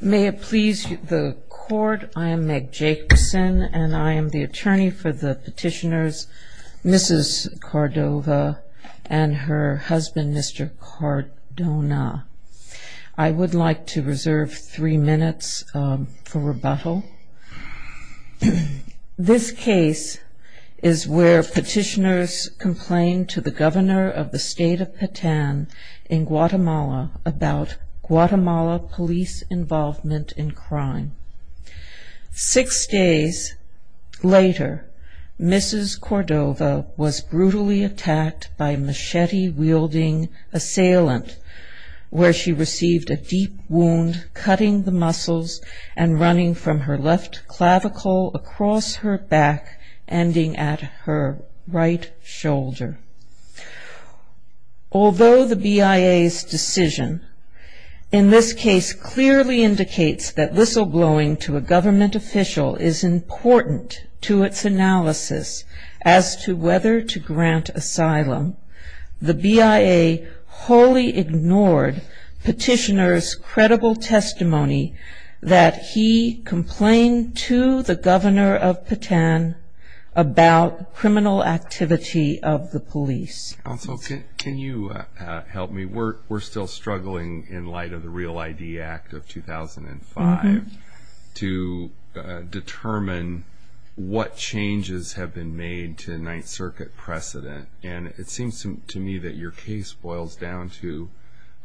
May it please the court, I am Meg Jacobson and I am the attorney for the petitioners Mrs. Cordova and her husband, Mr. Cardona. I would like to reserve three minutes for rebuttal. This case is where petitioners complained to the governor of the state of Patan in Guatemala about Guatemala police involvement in crime. Six days later Mrs. Cordova was brutally attacked by machete wielding assailant where she received a deep wound cutting the muscles and running from her left clavicle across her back ending at her right shoulder. Although the BIA's decision in this case clearly indicates that whistleblowing to a government official is important to its analysis as to whether to grant asylum, the BIA wholly ignored petitioners credible testimony that he complained to the governor of Patan about criminal activity of the police. Can you help me? We're still struggling in light of the Real ID Act of 2005 to determine what changes have been made to the Ninth Circuit precedent and it seems to me that your case boils down to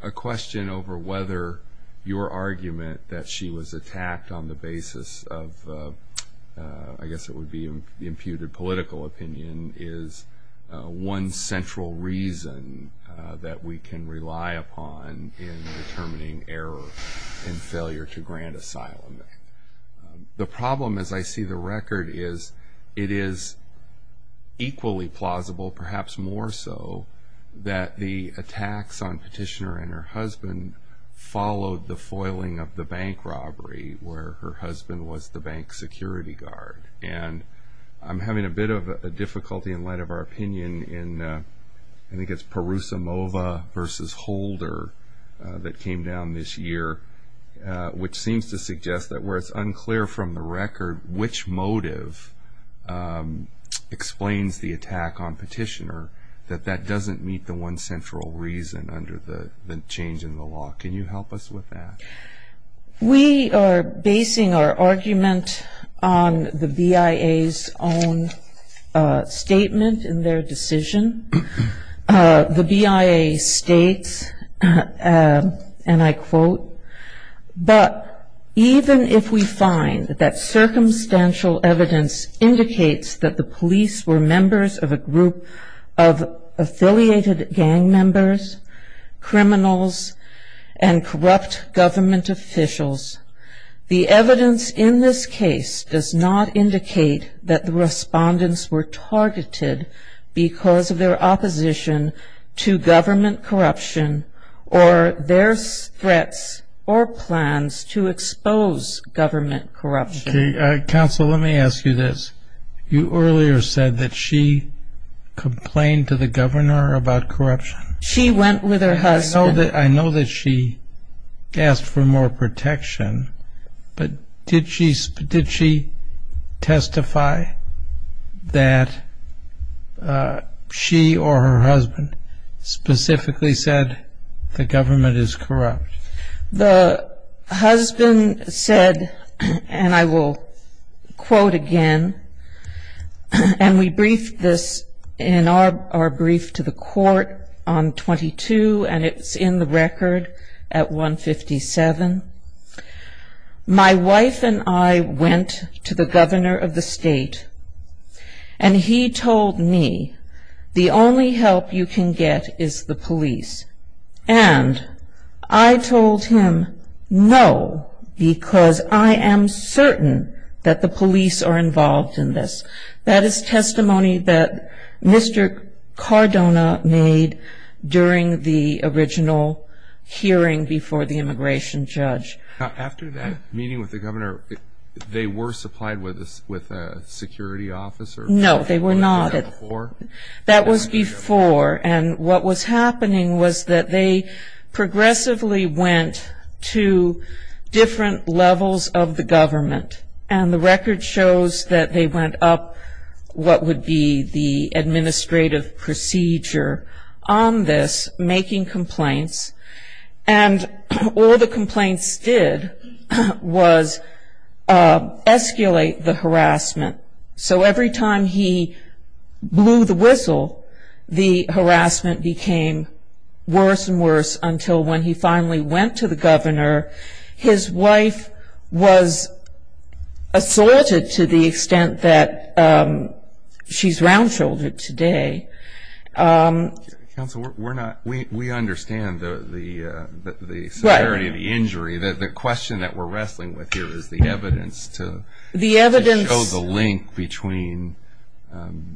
a question over whether your argument that she was attacked on the basis of I guess it would be the imputed political opinion is one central reason that we can rely upon in determining error and failure to grant asylum. The problem as I see the record is it is equally plausible perhaps more so that the attacks on petitioner and her husband followed the foiling of the bank robbery where her husband was the bank security guard and I'm having a bit of a difficulty in light of our opinion in I think it's Perusimova versus Holder that came down this year which seems to suggest that where it's unclear from the record which motive explains the attack on petitioner that that doesn't meet the one central reason under the change in the law. Can you help us with that? We are basing our argument on the BIA's own statement in their decision. The BIA states and I quote but even if we find that circumstantial evidence indicates that the police were members of a group of affiliated gang members criminals and corrupt government officials the evidence in this case does not indicate that the respondents were targeted because of their opposition to government corruption or their threats or plans to expose government corruption. Counsel, let me ask you this you earlier said that she complained to the governor about corruption. She went with her husband. I know that she asked for more protection, but did she did she testify that she or her husband specifically said the government is corrupt? The husband said and I will quote again and we briefed this in our brief to the court on 1922 and it's in the record at 157. My wife and I went to the governor of the state and he told me the only help you can get is the police and I told him no because I am certain that the police are involved in this. That is testimony that Mr. Cardona made during the original hearing before the immigration judge. After that meeting with the governor they were supplied with us with a security officer. No, they were not. That was before and what was happening was that they progressively went to different levels of the government and the record shows that they went up what would be the making complaints and all the complaints did was escalate the harassment. So every time he blew the whistle the harassment became worse and worse until when he finally went to the governor his wife was assaulted to the extent that she's round-shouldered today. Counselor, we're not, we understand the severity of the injury that the question that we're wrestling with here is the evidence to the evidence of the link between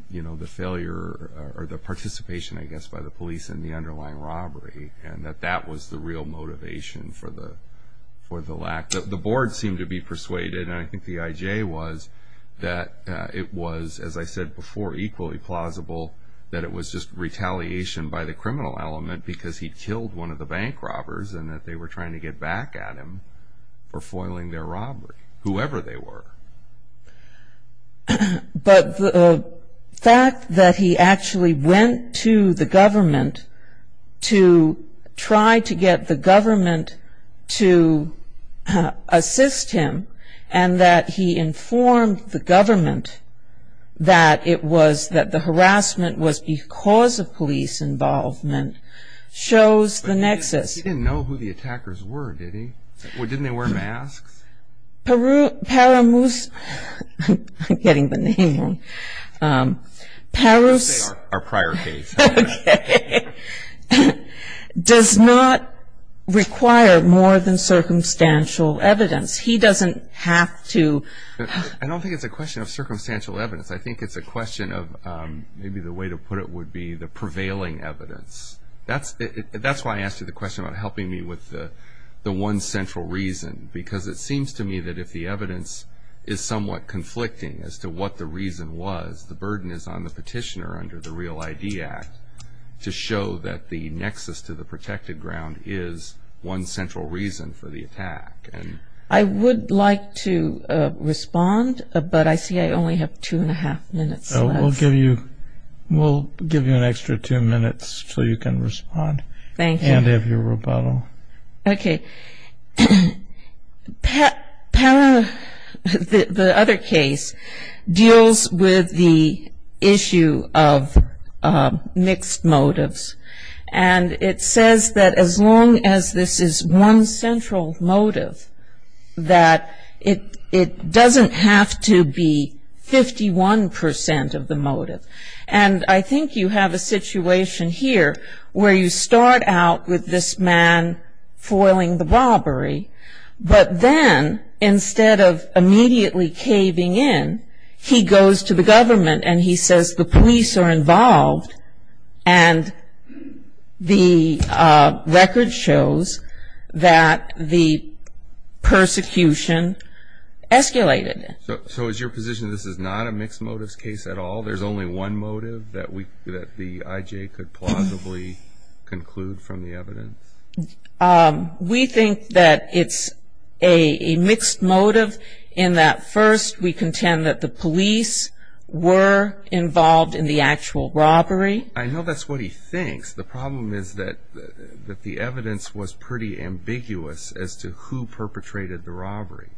you know the failure or the participation I guess by the police and the underlying robbery and that that was the real motivation for the for the lack of the board seemed to be persuaded and I think the IJ was that it was as I said before equally plausible that it was just retaliation by the criminal element because he'd killed one of the bank robbers and that they were trying to get back at him for foiling their robbery whoever they were. But the fact that he actually went to the government to try to get the government to assist him and that he informed the government that it was that the harassment was because of police involvement shows the nexus. He didn't know who the attackers were did he? Didn't they wear masks? Peru, Paramoose I'm getting the name wrong Paroose, our prior case Does not require more than circumstantial evidence. He doesn't have to I don't think it's a question of circumstantial evidence I think it's a question of maybe the way to put it would be the prevailing evidence That's that's why I asked you the question about helping me with the the one central reason because it seems to me that if the evidence is somewhat conflicting as to what the reason was the burden is on the petitioner under the Real ID Act To show that the nexus to the protected ground is one central reason for the attack and I would like to Respond, but I see I only have two and a half minutes. We'll give you We'll give you an extra two minutes so you can respond. Thank you and have your rebuttal Okay Pat The other case deals with the issue of Mixed motives and it says that as long as this is one central motive That it it doesn't have to be 51% of the motive and I think you have a situation here where you start out with this man foiling the robbery But then instead of immediately caving in he goes to the government and he says the police are involved and the record shows that the Persecution Escalated so is your position? This is not a mixed motives case at all There's only one motive that we that the IJ could plausibly conclude from the evidence we think that it's a Mixed motive in that first we contend that the police Were Involved in the actual robbery. I know that's what he thinks The problem is that that the evidence was pretty ambiguous as to who perpetrated the robbery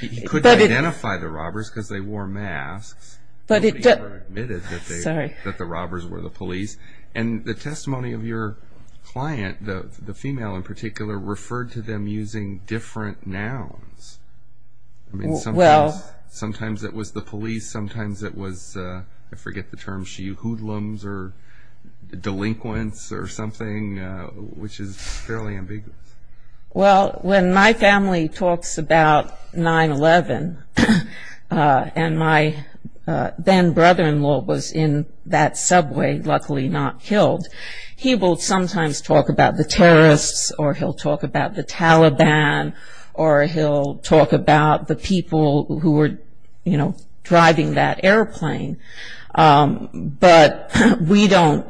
He couldn't identify the robbers because they wore masks but it admitted that they that the robbers were the police and the testimony of your Client the the female in particular referred to them using different nouns. I Was I forget the term she hoodlums or Delinquents or something which is fairly ambiguous well when my family talks about 9-eleven and my Then brother-in-law was in that subway luckily not killed he will sometimes talk about the terrorists or he'll talk about the Taliban or He'll talk about the people who were you know driving that airplane But we don't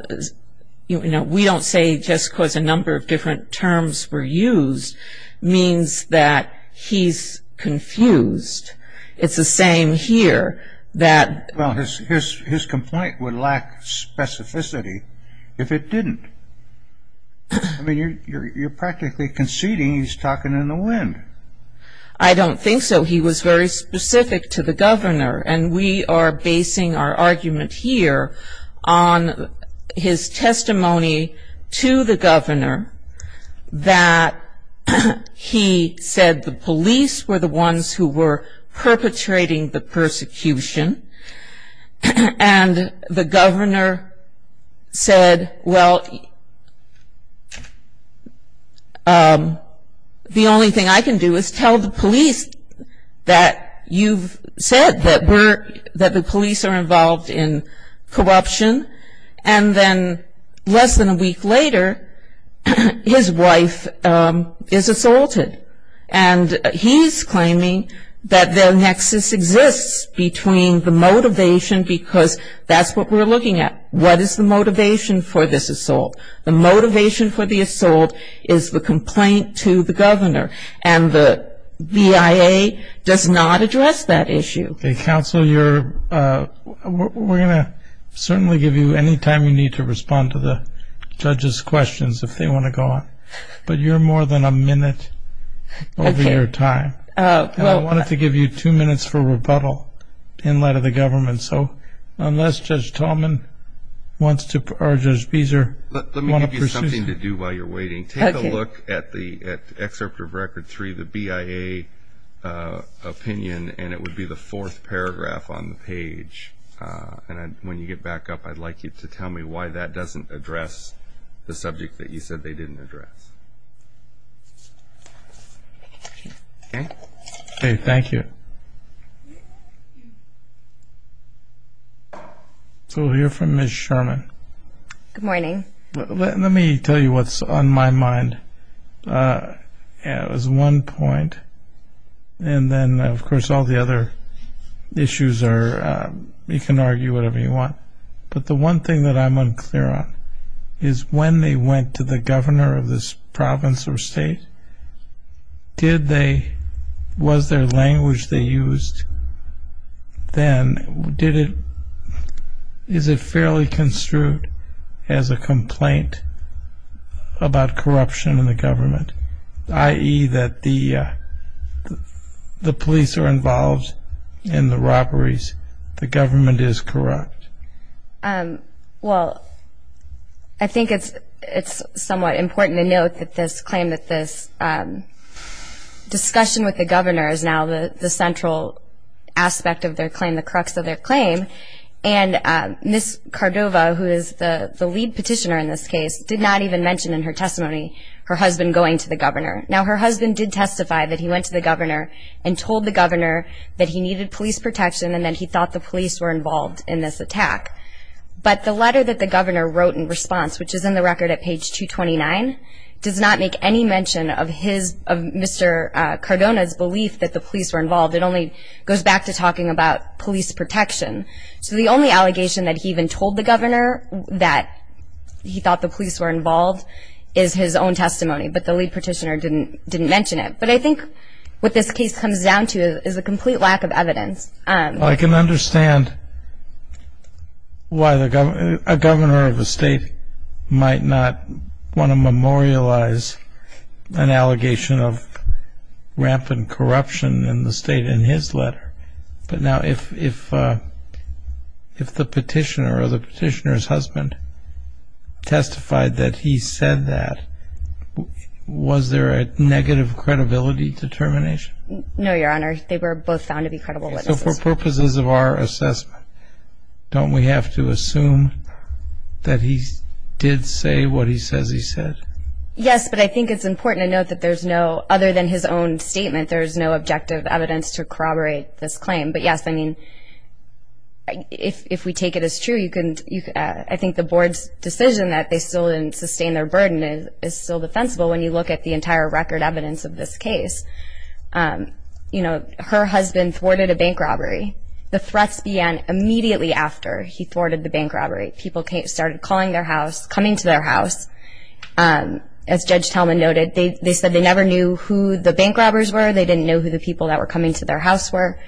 You know, we don't say just cause a number of different terms were used means that he's Confused it's the same here that well his his complaint would lack specificity if it didn't I Mean you're you're practically conceding. He's talking in the wind I don't think so. He was very specific to the governor and we are basing our argument here on his testimony to the governor that He said the police were the ones who were perpetrating the persecution and The governor said well The Only thing I can do is tell the police that You've said that we're that the police are involved in corruption and then less than a week later his wife is assaulted and He's claiming that their nexus exists between the motivation because that's what we're looking at What is the motivation for this assault the motivation for the assault is the complaint to the governor and the BIA does not address that issue a council you're We're gonna certainly give you any time you need to respond to the judges questions if they want to go on But you're more than a minute Over your time. I wanted to give you two minutes for rebuttal in light of the government. So unless judge Talman Wants to purge those Beezer. Let me give you something to do while you're waiting Take a look at the excerpt of record three the BIA Opinion and it would be the fourth paragraph on the page And when you get back up, I'd like you to tell me why that doesn't address the subject that you said they didn't address Okay, okay, thank you So Here from miss Sherman good morning, let me tell you what's on my mind Yeah, it was one point and Then of course all the other issues are You can argue whatever you want But the one thing that I'm unclear on is when they went to the governor of this province or state Did they was their language they used Then did it Is it fairly construed as a complaint? about corruption in the government i.e. that the The police are involved in the robberies. The government is corrupt well, I Discussion with the governor is now the the central aspect of their claim the crux of their claim and Miss Cordova who is the the lead petitioner in this case did not even mention in her testimony her husband going to the governor now her husband did testify that he went to the governor and Told the governor that he needed police protection and then he thought the police were involved in this attack But the letter that the governor wrote in response, which is in the record at page 229 Does not make any mention of his of mr. Cardona's belief that the police were involved It only goes back to talking about police protection. So the only allegation that he even told the governor that He thought the police were involved is his own testimony, but the lead petitioner didn't didn't mention it But I think what this case comes down to is a complete lack of evidence. I can understand Why the governor of a state might not want to memorialize an allegation of rampant corruption in the state in his letter, but now if If the petitioner or the petitioner's husband Testified that he said that Was there a negative credibility determination? No, your honor. They were both found to be credible Purposes of our assessment Don't we have to assume? That he did say what he says he said Yes, but I think it's important to note that there's no other than his own statement. There's no objective evidence to corroborate this claim but yes, I mean If we take it as true you couldn't you I think the board's decision that they still didn't sustain their burden is Still defensible when you look at the entire record evidence of this case You know her husband thwarted a bank robbery the threats began immediately after he thwarted the bank robbery people Can't started calling their house coming to their house As Judge Talman noted they said they never knew who the bank robbers were They didn't know who the people that were coming to their house were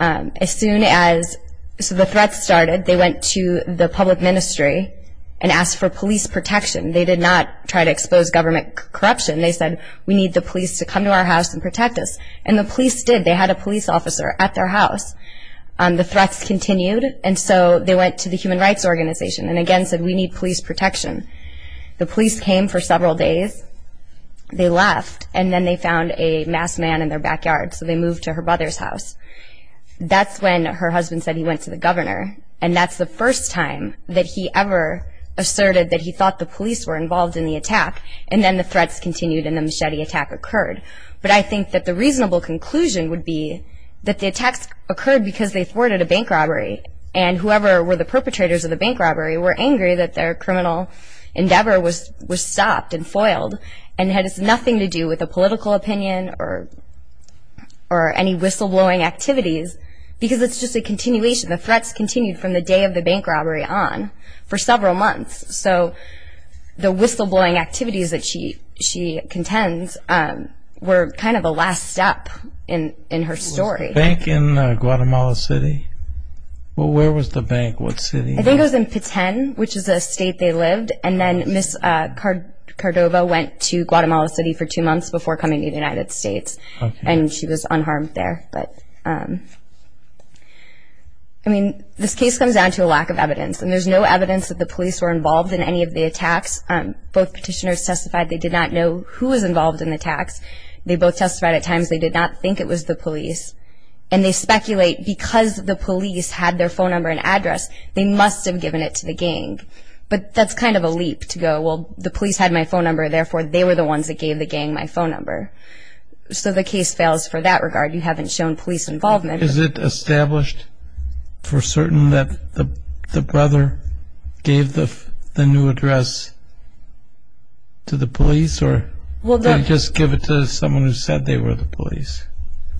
as soon as So the threats started they went to the public ministry and asked for police protection They did not try to expose government corruption They said we need the police to come to our house and protect us and the police did they had a police officer at? their house The threats continued and so they went to the Human Rights Organization and again said we need police protection The police came for several days They left and then they found a masked man in their backyard. So they moved to her brother's house That's when her husband said he went to the governor and that's the first time that he ever Asserted that he thought the police were involved in the attack and then the threats continued in the machete attack occurred but I think that the reasonable conclusion would be that the attacks occurred because they thwarted a bank robbery and Whoever were the perpetrators of the bank robbery were angry that their criminal endeavor was was stopped and foiled and had it's nothing to do with a political opinion or or Any whistleblowing activities because it's just a continuation the threats continued from the day of the bank robbery on for several months, so The whistleblowing activities that she she contends Were kind of a last step in in her story bank in Guatemala City Well, where was the bank? What city I think it was in Patan which is a state they lived and then miss Cordova went to Guatemala City for two months before coming to the United States and she was unharmed there. But I This case comes down to a lack of evidence and there's no evidence that the police were involved in any of the attacks Both petitioners testified. They did not know who was involved in the tax. They both testified at times They did not think it was the police and they speculate because the police had their phone number and address They must have given it to the gang, but that's kind of a leap to go Well, the police had my phone number. Therefore. They were the ones that gave the gang my phone number So the case fails for that regard. You haven't shown police involvement. Is it established? For certain that the the brother gave the new address To the police or well, don't just give it to someone who said they were the police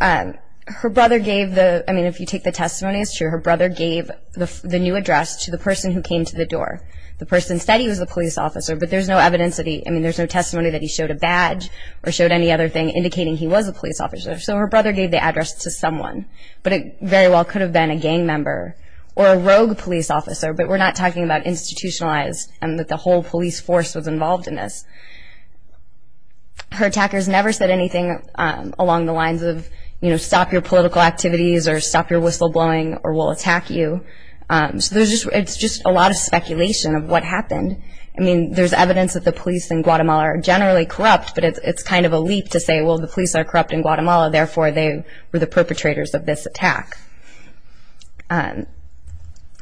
Her brother gave the I mean if you take the testimony, it's true Her brother gave the new address to the person who came to the door the person said he was the police officer But there's no evidence that he I mean There's no testimony that he showed a badge or showed any other thing indicating he was a police officer So her brother gave the address to someone but it very well could have been a gang member or a rogue police officer But we're not talking about institutionalized and that the whole police force was involved in this Her attackers never said anything Along the lines of you know, stop your political activities or stop your whistleblowing or will attack you So there's just it's just a lot of speculation of what happened I mean, there's evidence that the police in Guatemala are generally corrupt But it's it's kind of a leap to say well the police are corrupt in Guatemala. Therefore. They were the perpetrators of this attack And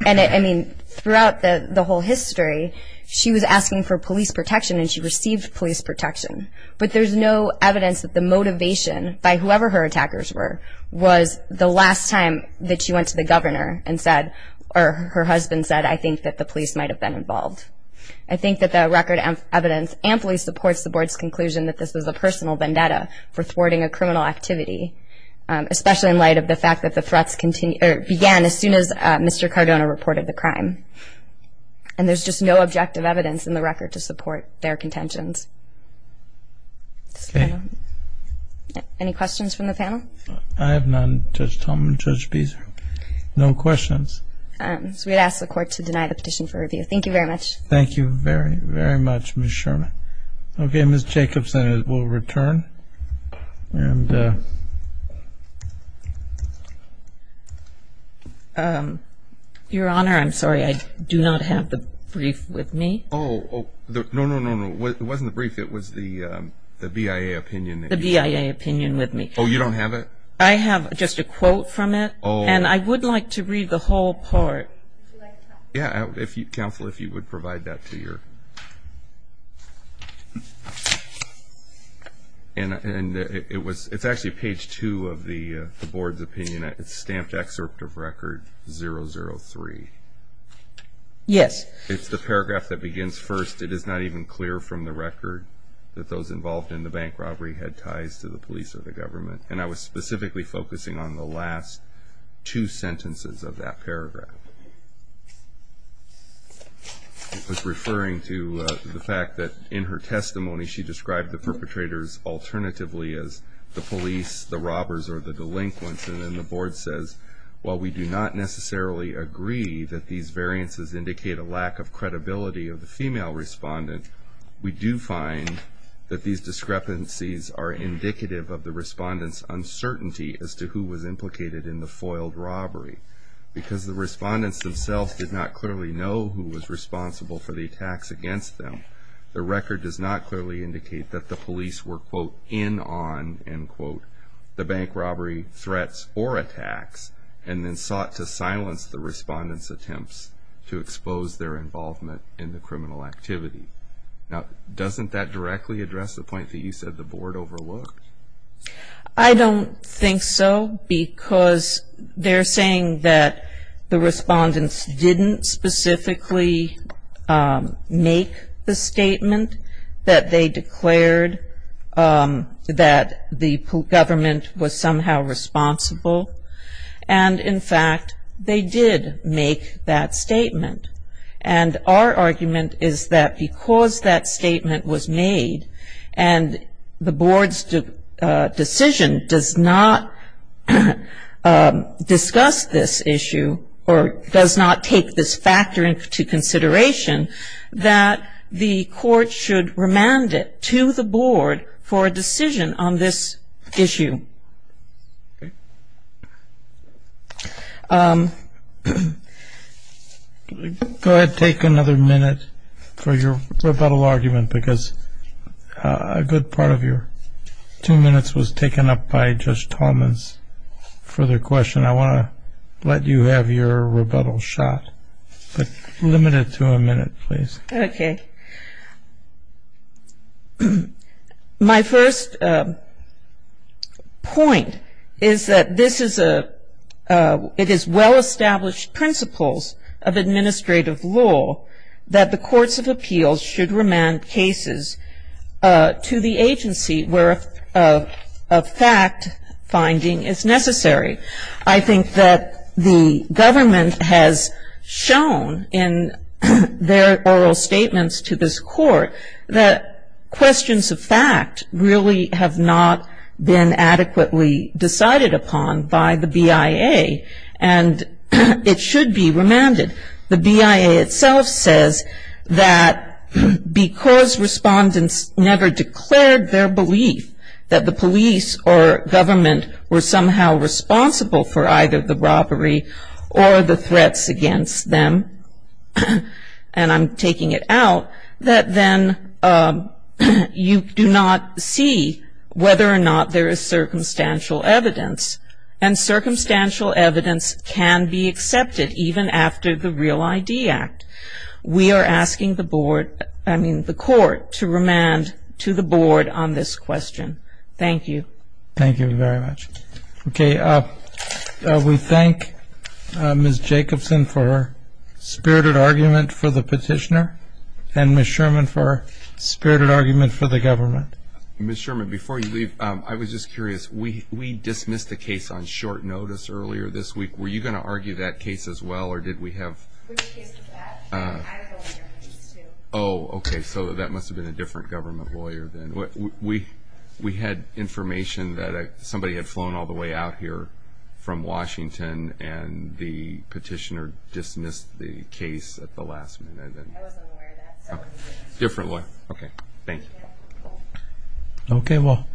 I mean throughout the the whole history She was asking for police protection and she received police protection But there's no evidence that the motivation by whoever her attackers were Was the last time that she went to the governor and said or her husband said I think that the police might have been involved I think that the record and evidence amply supports the board's conclusion that this was a personal vendetta for thwarting a criminal activity Especially in light of the fact that the threats continue began as soon as mr. Cardona reported the crime and There's just no objective evidence in the record to support their contentions Any questions from the panel I have none just Tom and judge Beezer no questions So we'd ask the court to deny the petition for review. Thank you very much Thank you very very much miss Sherman. Okay, miss Jacobson is will return and Your honor, I'm sorry, I do not have the brief with me. Oh No, no, no. No, it wasn't the brief. It was the the BIA opinion the BIA opinion with me Oh, you don't have it. I have just a quote from it. Oh, and I would like to read the whole part Yeah, if you counsel if you would provide that to your And and it was it's actually page two of the board's opinion it's stamped excerpt of record zero zero three Yes, it's the paragraph that begins first It is not even clear from the record That those involved in the bank robbery had ties to the police or the government and I was specifically focusing on the last two sentences of that paragraph I Was referring to the fact that in her testimony she described the perpetrators Alternatively as the police the robbers or the delinquents and then the board says well We do not necessarily agree that these variances indicate a lack of credibility of the female respondent We do find that these discrepancies are indicative of the respondents Uncertainty as to who was implicated in the foiled robbery Because the respondents themselves did not clearly know who was responsible for the attacks against them The record does not clearly indicate that the police were quote in on and quote The bank robbery threats or attacks and then sought to silence the respondents attempts to expose their involvement In the criminal activity now, doesn't that directly address the point that you said the board overlooked? I Don't think so because They're saying that the respondents didn't specifically Make the statement that they declared that the government was somehow responsible and in fact, they did make that statement and our argument is that because that statement was made and the board's Decision does not Discuss this issue or does not take this factor into consideration That the court should remand it to the board for a decision on this issue Go ahead take another minute for your rebuttal argument because a good part of your Two-minutes was taken up by just Thomas For their question. I want to let you have your rebuttal shot, but limited to a minute, please. Okay My first Point is that this is a It is well established principles of administrative law that the courts of appeals should remand cases To the agency where a fact Finding is necessary. I think that the government has shown in their oral statements to this court that questions of fact really have not been adequately decided upon by the BIA and It should be remanded the BIA itself says that Because respondents never declared their belief that the police or government were somehow responsible for either the robbery or the threats against them and I'm taking it out that then you do not see whether or not there is circumstantial evidence and Circumstantial evidence can be accepted even after the Real ID Act We are asking the board, I mean the court to remand to the board on this question, thank you Thank you very much. Okay We thank Miss Jacobson for her Spirited argument for the petitioner and miss Sherman for spirited argument for the government miss Sherman before you leave I was just curious. We we dismissed the case on short notice earlier this week Were you going to argue that case as well, or did we have? Oh Okay, so that must have been a different government lawyer than what we we had information that somebody had flown all the way out here from Washington and the petitioner dismissed the case at the last minute Differently, okay. Thank you Okay. Well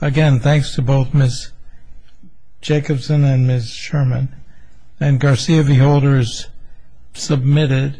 again, thanks to both miss Jacobson and miss Sherman and Garcia the holders Submitted